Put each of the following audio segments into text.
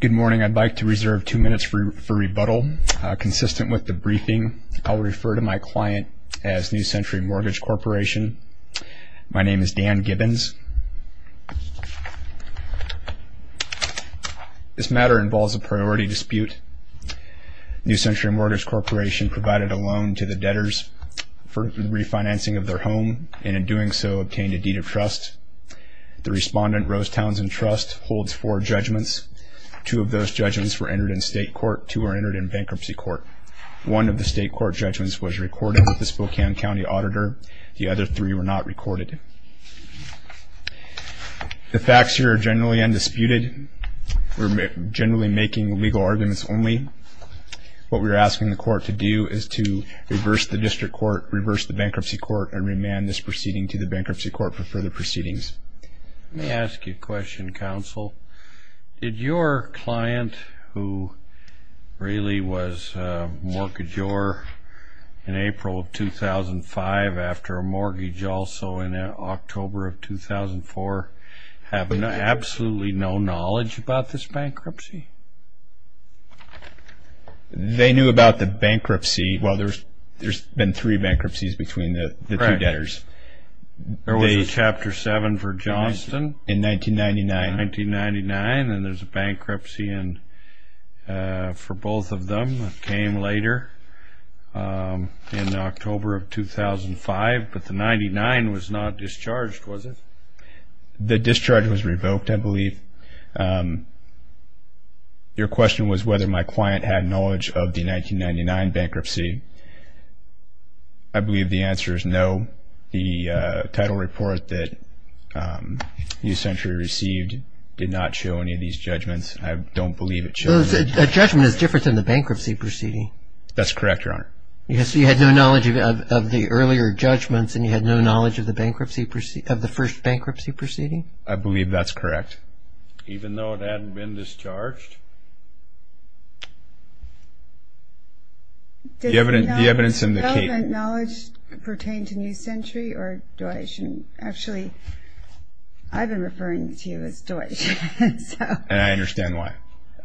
Good morning, I'd like to reserve two minutes for rebuttal. Consistent with the briefing, I'll refer to my client as New Century Mortgage Corporation. My name is Dan Gibbons. This matter involves a priority dispute. New Century Mortgage Corporation provided a loan to the debtors for the refinancing of their home and in doing so obtained a deed of trust. The respondent, Rose Townsend Trust, holds four judgments. Two of those judgments were entered in state court, two were entered in bankruptcy court. One of the state court judgments was recorded with the Spokane County Auditor. The other three were not recorded. The facts here are generally undisputed. We're generally making legal arguments only. What we're asking the court to do is to reverse the district court, reverse the bankruptcy court, and remand this proceeding to the bankruptcy court for the proceedings. Let me ask you a question, counsel. Did your client, who really was a mortgagor in April of 2005 after a mortgage also in October of 2004, have absolutely no knowledge about this bankruptcy? They knew about the bankruptcy. Well, there's been three bankruptcies between the two chapters. Chapter 7 for Johnston in 1999 and there's a bankruptcy for both of them that came later in October of 2005, but the 99 was not discharged, was it? The discharge was revoked, I believe. Your question was whether my client had knowledge of the new century received did not show any of these judgments. I don't believe it shows. A judgment is different than the bankruptcy proceeding. That's correct, Your Honor. Yes, so you had no knowledge of the earlier judgments and you had no knowledge of the bankruptcy, of the first bankruptcy proceeding? I believe that's correct. Even though it hadn't been discharged? The evidence in the case. Did your client knowledge pertain to new century or Deutsch? Actually, I've been referring to you as Deutsch. And I understand why.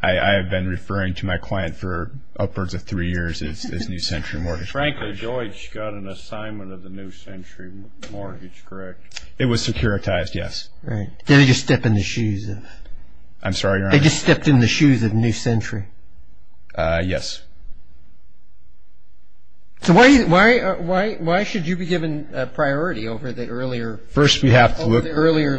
I have been referring to my client for upwards of three years as new century mortgage broker. Frankly, Deutsch got an assignment of the new century mortgage, correct? It was securitized, yes. Right. Did they just step in the shoes of? I'm sorry, Your Honor? They just stepped in the shoes of new century? Yes. So why should you be given priority over the earlier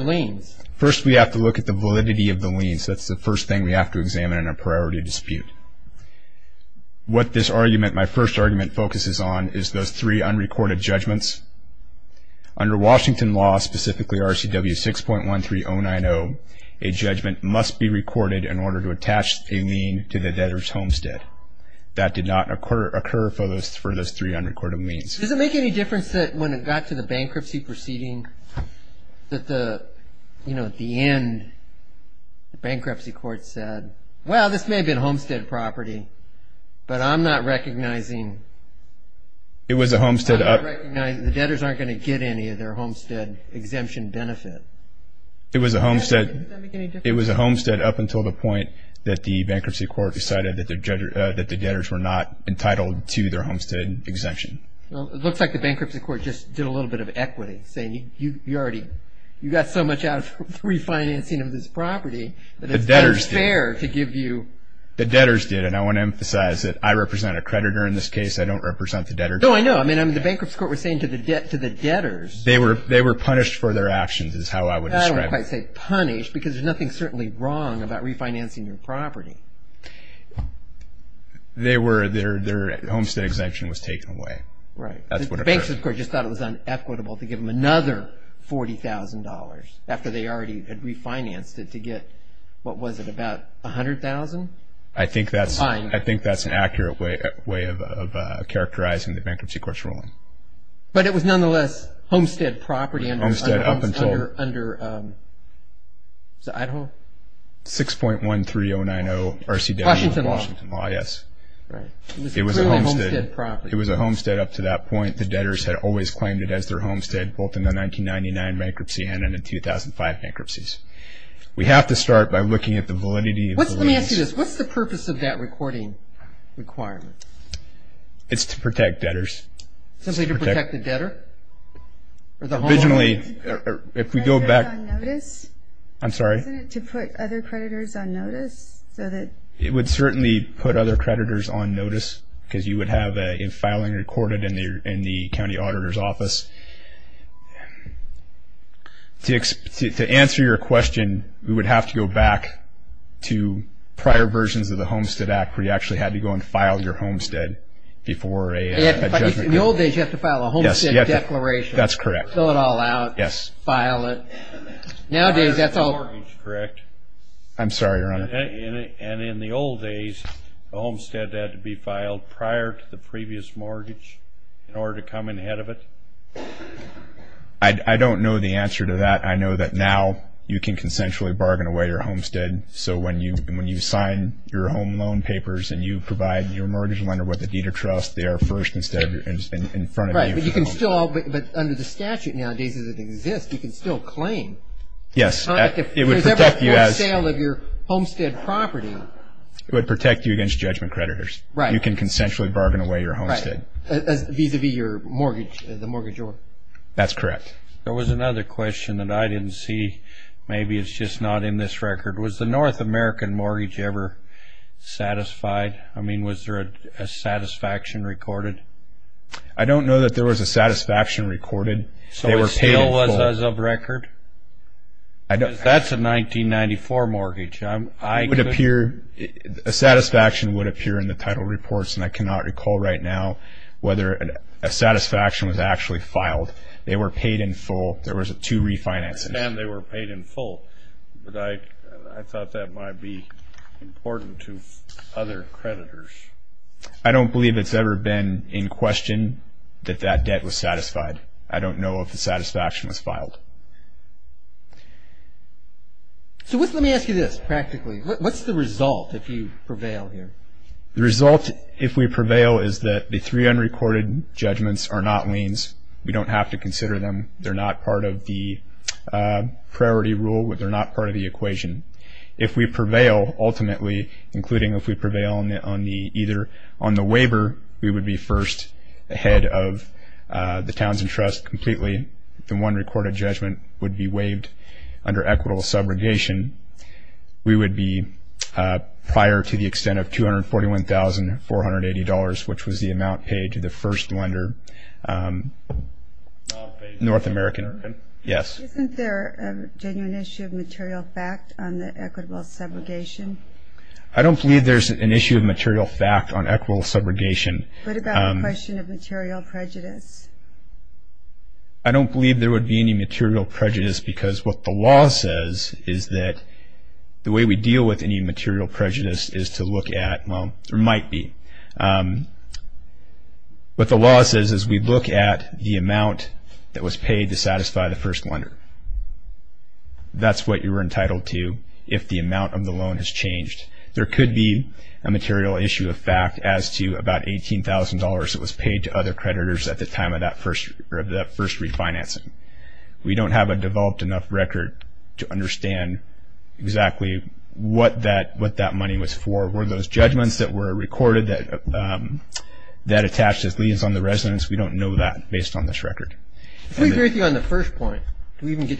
liens? First we have to look at the validity of the liens. That's the first thing we have to examine in a priority dispute. What this argument, my first argument focuses on is those three unrecorded judgments. Under Washington law, specifically RCW 6.13090, a judgment must be recorded in order to attach a lien to the debtor's homestead. That did not occur for those three unrecorded liens. Does it make any difference that when it got to the bankruptcy proceeding, that at the end, the bankruptcy court said, well, this may have been homestead property, but I'm not recognizing the debtors aren't going to get any of their homestead exemption benefit? It was a homestead up until the point that the bankruptcy court decided that the debtors were not entitled to their homestead exemption. Well, it looks like the bankruptcy court just did a little bit of equity, saying you already, you got so much out of refinancing of this property that it's unfair to give you. The debtors did, and I want to emphasize that I represent a creditor in this case. I don't represent the debtors. No, I know. I mean, the bankruptcy court was saying to the debtors. They were punished for their actions, is how I would describe it. I don't quite say punished, because there's nothing certainly wrong about refinancing your property. Their homestead exemption was taken away. Right. That's what occurred. The bankruptcy court just thought it was unequitable to give them another $40,000 after they already had refinanced it to get, what was it, about $100,000? I think that's an accurate way of characterizing the bankruptcy court's ruling. But it was nonetheless homestead property under Idaho? 6.13090 RCW. Washington Law. Washington Law, yes. Right. It was a homestead property. It was a homestead up to that point. The debtors had always claimed it as their homestead, both in the 1999 bankruptcy and in the 2005 bankruptcies. We have to start by looking at the validity of the lease. Let me ask you this. What's the purpose of that recording requirement? It's to protect debtors. Simply to protect the debtor? Originally, if we go back... On notice? I'm sorry? Isn't it to put other creditors on notice so that... It would certainly put other creditors on notice because you would have a filing recorded in the county auditor's office. To answer your question, we would have to go back to prior versions of the Homestead Act where you actually had to go and file your homestead before a judgment... In the old days, you had to file a homestead declaration. That's correct. Fill it all out. Yes. File it. Nowadays, that's all... Prior to the mortgage, correct? I'm sorry, Your Honor. And in the old days, the homestead had to be filed prior to the previous mortgage in order to come in ahead of it? I don't know the answer to that. I know that now you can consensually bargain away your homestead. So when you sign your home loan papers and you provide your mortgage lender with a deed of trust, they are first instead in front of you. Right, but you can still... But under the statute nowadays, as it exists, you can still claim. Yes. If there's ever a false sale of your homestead property... It would protect you against judgment creditors. Right. You can consensually bargain away your homestead. Right. Vis-a-vis your mortgage, the mortgage order. That's correct. There was another question that I didn't see. Maybe it's just not in this record. Was the North American mortgage ever satisfied? I mean, was there a satisfaction recorded? I don't know that there was a satisfaction recorded. So it still was as of record? I don't... That's a 1994 mortgage. I could... It would appear... A satisfaction would appear in the title reports. And I cannot recall right now whether a satisfaction was actually filed. They were paid in full. There was two refinances. I understand they were paid in full. But I thought that might be important to other creditors. I don't believe it's ever been in question that that debt was satisfied. I don't know if the satisfaction was filed. So let me ask you this, practically. What's the result if you prevail here? The result, if we prevail, is that the three unrecorded judgments are not liens. We don't have to consider them. They're not part of the priority rule. They're not part of the equation. If we prevail, ultimately, including if we prevail on the waiver, we would be first ahead of the Townsend Trust completely. The one recorded judgment would be waived under equitable subrogation. We would be prior to the extent of $241,480, which was the amount paid to the first lender, North American. Yes? Isn't there a genuine issue of material fact on the equitable subrogation? I don't believe there's an issue of material fact on equitable subrogation. What about a question of material prejudice? I don't believe there would be any material prejudice because what the law says is that the way we deal with any material prejudice is to look at, well, there might be. What the law says is we look at the amount that was paid to satisfy the first lender. That's what you're entitled to if the amount of the loan has changed. There could be a material issue of fact as to about $18,000 that was paid to other creditors at the time of that first refinancing. We don't have a developed enough record to understand exactly what that money was for. Were those judgments that were recorded that attached as liens on the residence? We don't know that based on this record. If we agree with you on the first point, do we even need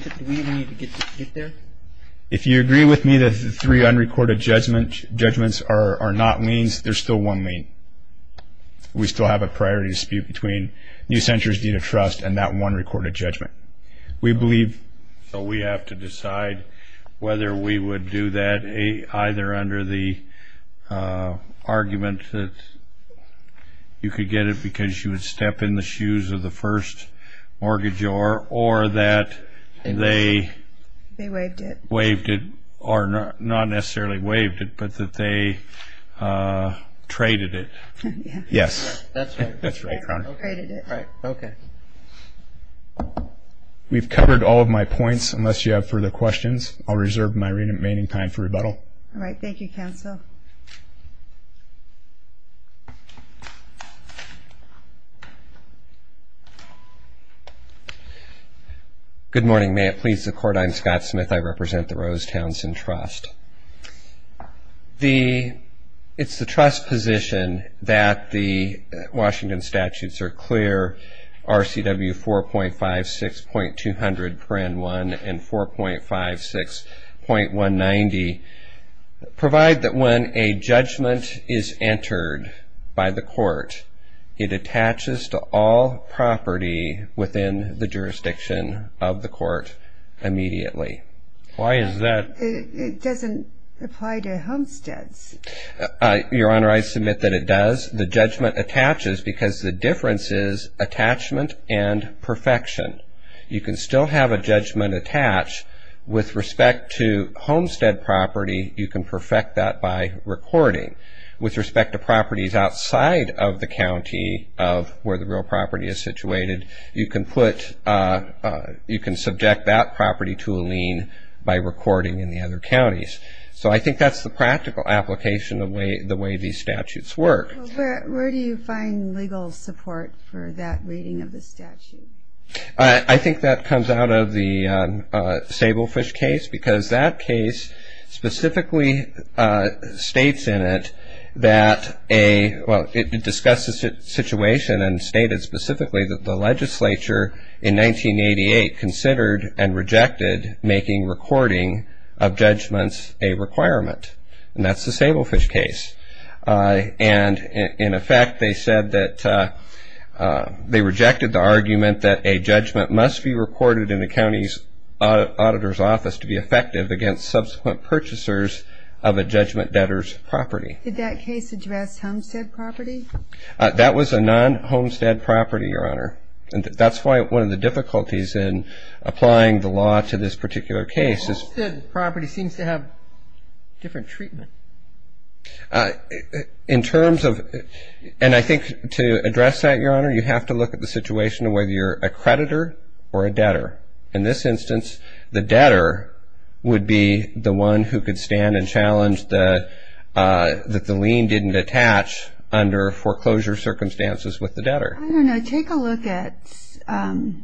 to get there? If you agree with me that the three unrecorded judgments are not liens, there's still one lien. We still have a priority dispute between New Center's deed of trust and that one recorded judgment. We believe we have to decide whether we would do that either under the argument that you could get it because you would step in the shoes of the first mortgagor or that they waived it, or not necessarily waived it, but that they traded it. Yes. That's right. We've covered all of my points. Unless you have further questions, I'll reserve my remaining time for rebuttal. All right. Thank you, Counsel. Good morning. May it please the Court. I'm Scott Smith. I represent the Rose Townsend Trust. It's the trust position that the Washington statutes are clear, RCW 4.56.200.1 and 4.56.190, provide that when a judgment is entered by the court, it attaches to all property within the jurisdiction of the court immediately. Why is that? It doesn't apply to homesteads. Your Honor, I submit that it does. The judgment attaches because the difference is attachment and perfection. You can still have a judgment attached. With respect to homestead property, you can perfect that by recording. With respect to properties outside of the county of where the real property is situated, you can subject that property to a lien by recording in the other counties. I think that's the practical application of the way these statutes work. Where do you find legal support for that reading of the statute? I think that comes out of the Stablefish case because that case specifically states in it that it discussed the situation and stated specifically that the legislature in 1988 considered and rejected making recording of judgments a requirement. That's the Stablefish case. In effect, they said that they rejected the argument that a judgment must be recorded in the county's auditor's office to be effective against subsequent purchasers of a judgment debtor's property. Did that case address homestead property? That was a non-homestead property, Your Honor. That's why one of the difficulties in applying the law to this particular case is... Homestead property seems to have different treatment. In terms of... And I think to address that, Your Honor, you have to look at the situation of whether you're a creditor or a debtor. In this instance, the debtor would be the one who could stand and challenge that the lien didn't attach under foreclosure circumstances with the debtor. Take a look at Section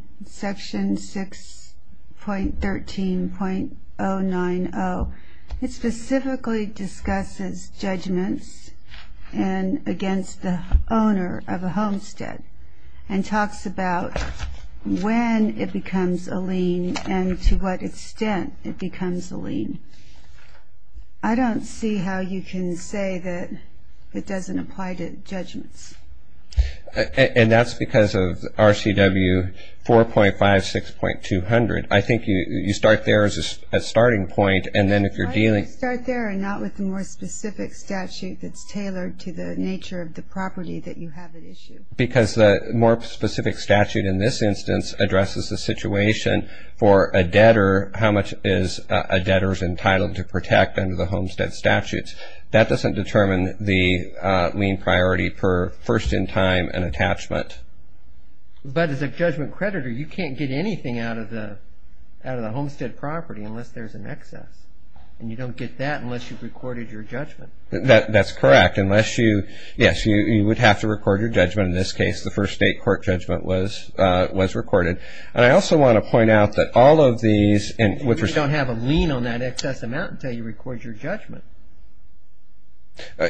6.13.090. It specifically discusses judgments against the owner of a homestead and talks about when it becomes a lien and to what extent it becomes a lien. I don't see how you can say that it doesn't apply to judgments. And that's because of RCW 4.56.200. I think you start there as a starting point and then if you're dealing... Why don't you start there and not with the more specific statute that's tailored to the nature of the property that you have at issue? Because the more specific statute in this instance addresses the situation for a debtor, how much is a debtor's entitled to protect under the homestead statutes. That doesn't determine the lien priority per first-in-time and attachment. But as a judgment creditor, you can't get anything out of the homestead property unless there's an excess. And you don't get that unless you've recorded your judgment. That's correct. Yes, you would have to record your judgment. In this case, the first state court judgment was recorded. And I also want to point out that all of these... You don't have a lien on that excess amount until you record your judgment.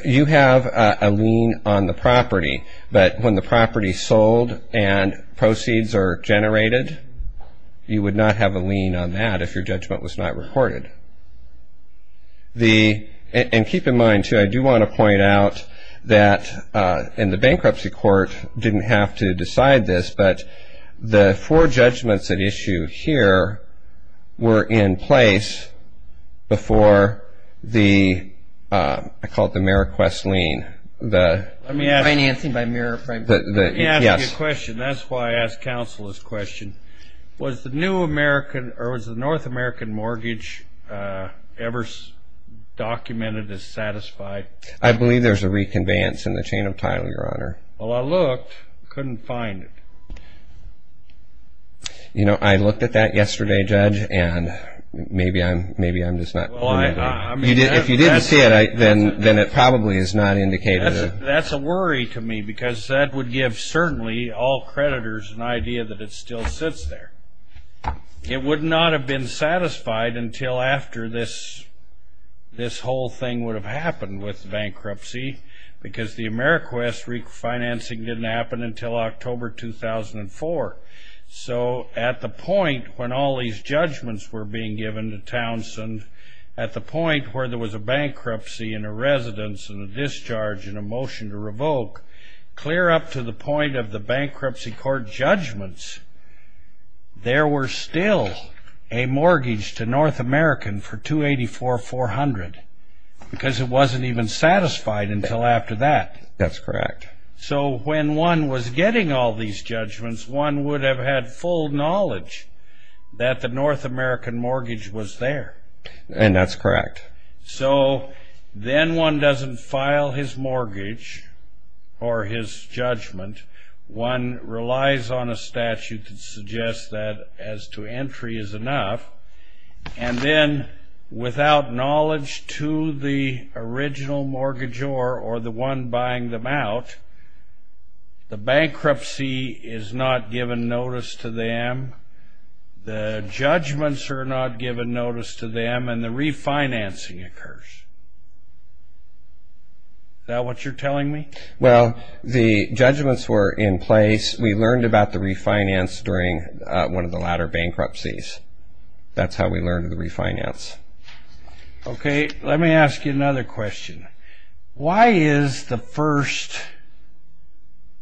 You have a lien on the property, but when the property is sold and proceeds are generated, you would not have a lien on that if your judgment was not recorded. And keep in mind, too, I do want to point out that and the bankruptcy court didn't have to decide this, but the four judgments at issue here were in place before the... I call it the Merriquest lien. The... Financing by Merriquest. Let me ask you a question. That's why I asked counsel this question. Was the new American... Or was the North American mortgage ever documented as satisfied? I believe there's a reconveyance in the chain of title, Your Honor. Well, I looked. Couldn't find it. You know, I looked at that yesterday, Judge, and maybe I'm just not... Well, I... If you didn't see it, then it probably is not indicated. That's a worry to me because that would give certainly all creditors an idea that it still sits there. It would not have been satisfied until after this whole thing would have happened with bankruptcy because the Merriquest refinancing didn't happen until October 2004. So at the point when all these judgments were being given to Townsend, at the point where there was a bankruptcy and a residence and a discharge and a motion to revoke, clear up to the point of the bankruptcy court judgments, there were still a mortgage to North American for 284,400 because it wasn't even satisfied until after that. That's correct. So when one was getting all these judgments, one would have had full knowledge that the North American mortgage was there. And that's correct. So then one doesn't file his mortgage or his judgment. One relies on a statute that suggests that as to entry is enough. And then, without knowledge to the original mortgagor or the one buying them out, the bankruptcy is not given notice to them. The judgments are not given notice to them. And the refinancing occurs. Is that what you're telling me? Well, the judgments were in place. We learned about the refinance during one of the latter bankruptcies. That's how we learned the refinance. Okay, let me ask you another question. Why is the first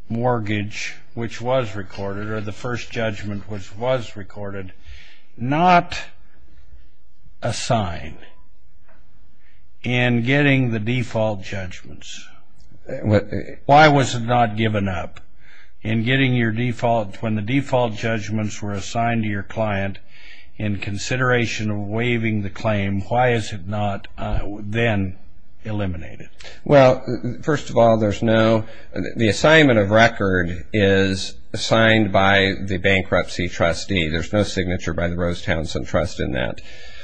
mortgage which was recorded or the first judgment which was recorded not assigned in getting the default judgments? Why was it not given up? When the default judgments were assigned to your client in consideration of waiving the claim, why is it not then eliminated? Well, first of all, there's no... The assignment of record is signed by the bankruptcy trustee. There's no signature by the Rosetown Sun Trust in that.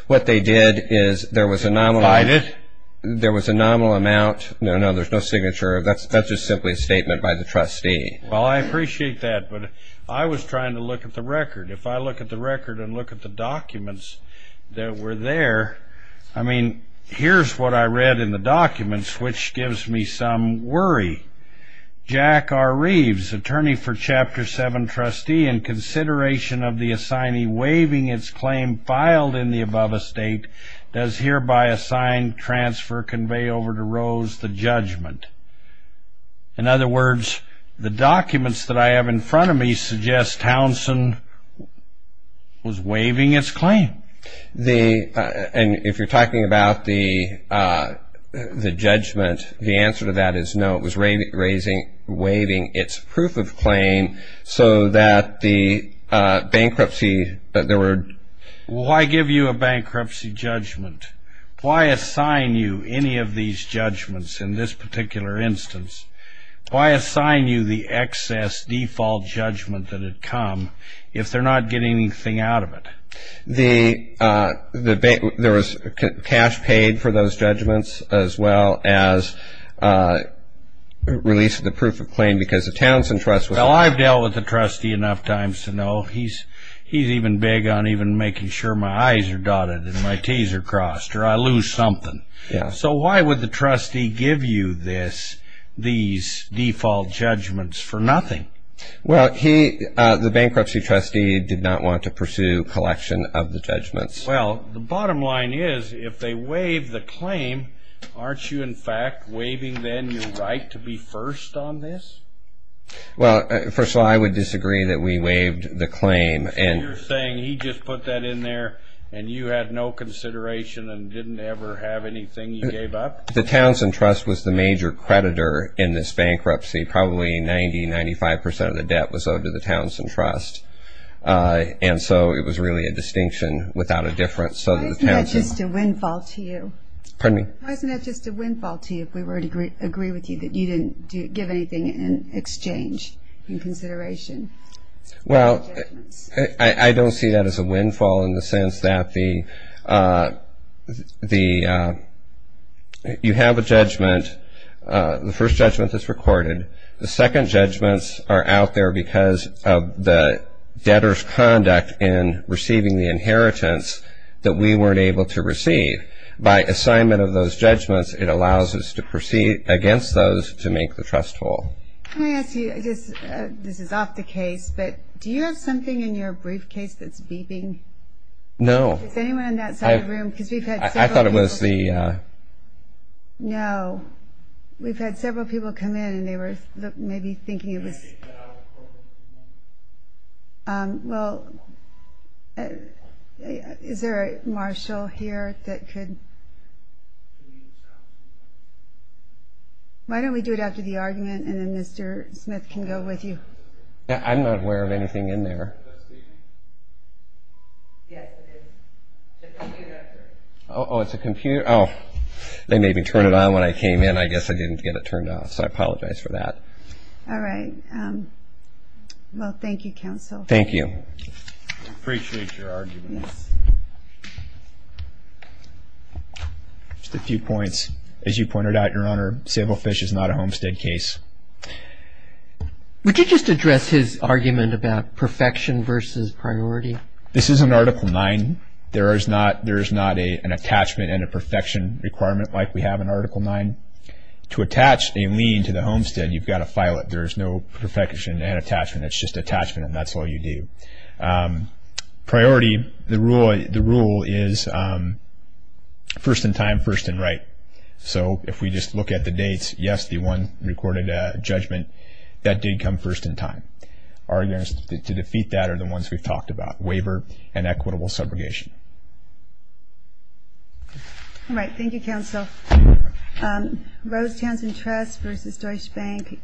What they did is there was a nominal... Cited? There was a nominal amount. No, no, there's no signature. That's just simply a statement by the trustee. Well, I appreciate that. But I was trying to look at the record. If I look at the record and look at the documents that were there, I mean, here's what I read in the documents which gives me some worry. Jack R. Reeves, attorney for Chapter 7 trustee, in consideration of the assignee waiving its claim filed in the above estate, does hereby assign, transfer, convey over to Rose the judgment. In other words, the documents that I have in front of me suggest Townsend was waiving its claim. And if you're talking about the judgment, the answer to that is no. It was waiving its proof of claim so that the bankruptcy... Why give you a bankruptcy judgment? Why assign you any of these judgments in this particular instance? Why assign you the excess default judgment that had come if they're not getting anything out of it? There was cash paid for those judgments as well as release of the proof of claim because the Townsend trust was... Well, I've dealt with the trustee enough times to know he's even big on even making sure my I's are dotted and my T's are crossed or I lose something. So why would the trustee give you this these default judgments for nothing? Well, the bankruptcy trustee did not want to pursue collection of the judgments. Well, the bottom line is if they waive the claim aren't you in fact waiving then your right to be first on this? Well, first of all, I would disagree that we waived the claim. So you're saying he just put that in there and you had no consideration and didn't ever have anything you gave up? The Townsend trust was the major creditor in this bankruptcy. Probably 90-95% of the debt was owed to the Townsend trust. And so it was really a distinction without a difference. Why isn't that just a windfall to you? Pardon me? Why isn't that just a windfall to you if we were to agree with you that you didn't give anything in exchange in consideration of the judgments? Well, I don't see that as a windfall in the sense that you have a judgment the first judgment that's recorded the second judgments are out there because of the debtor's conduct in receiving the inheritance that we weren't able to receive. By assignment of those judgments it allows us to proceed against those to make the trust whole. Can I ask you this is off the case but do you have something in your briefcase that's beeping? No. Is anyone in that side of the room? I thought it was the No. We've had several people come in and they were maybe thinking it was Can I take that out of the program for a moment? Well, is there a marshal here that could Can we do it after the argument? Why don't we do it after the argument and then Mr. Smith can go with you. I'm not aware of anything in there. Is that speaking? Yes, it is. It's a computer up there. Oh, it's a computer. Oh, okay. They made me turn it on when I came in. I guess I didn't get it turned off so I apologize for that. All right. Well, thank you, counsel. Thank you. I appreciate your argument. Just a few points. As you pointed out, Your Honor, Sablefish is not a homestead case. Would you just address his argument about perfection versus priority? This is in Article 9. There is not an attachment and a perfection requirement like we have in Article 9. To attach a lien to the homestead, you've got to file it. There is no perfection and attachment. It's just attachment and that's all you do. Priority, the rule is first in time, first in right. If we just look at the dates, yes, the one recorded judgment, that did come first in time. Arguments to defeat that are the ones we've talked about. Waiver and equitable subrogation. Thank you, Counsel. Rose Townsend Trust vs. Deutsche Bank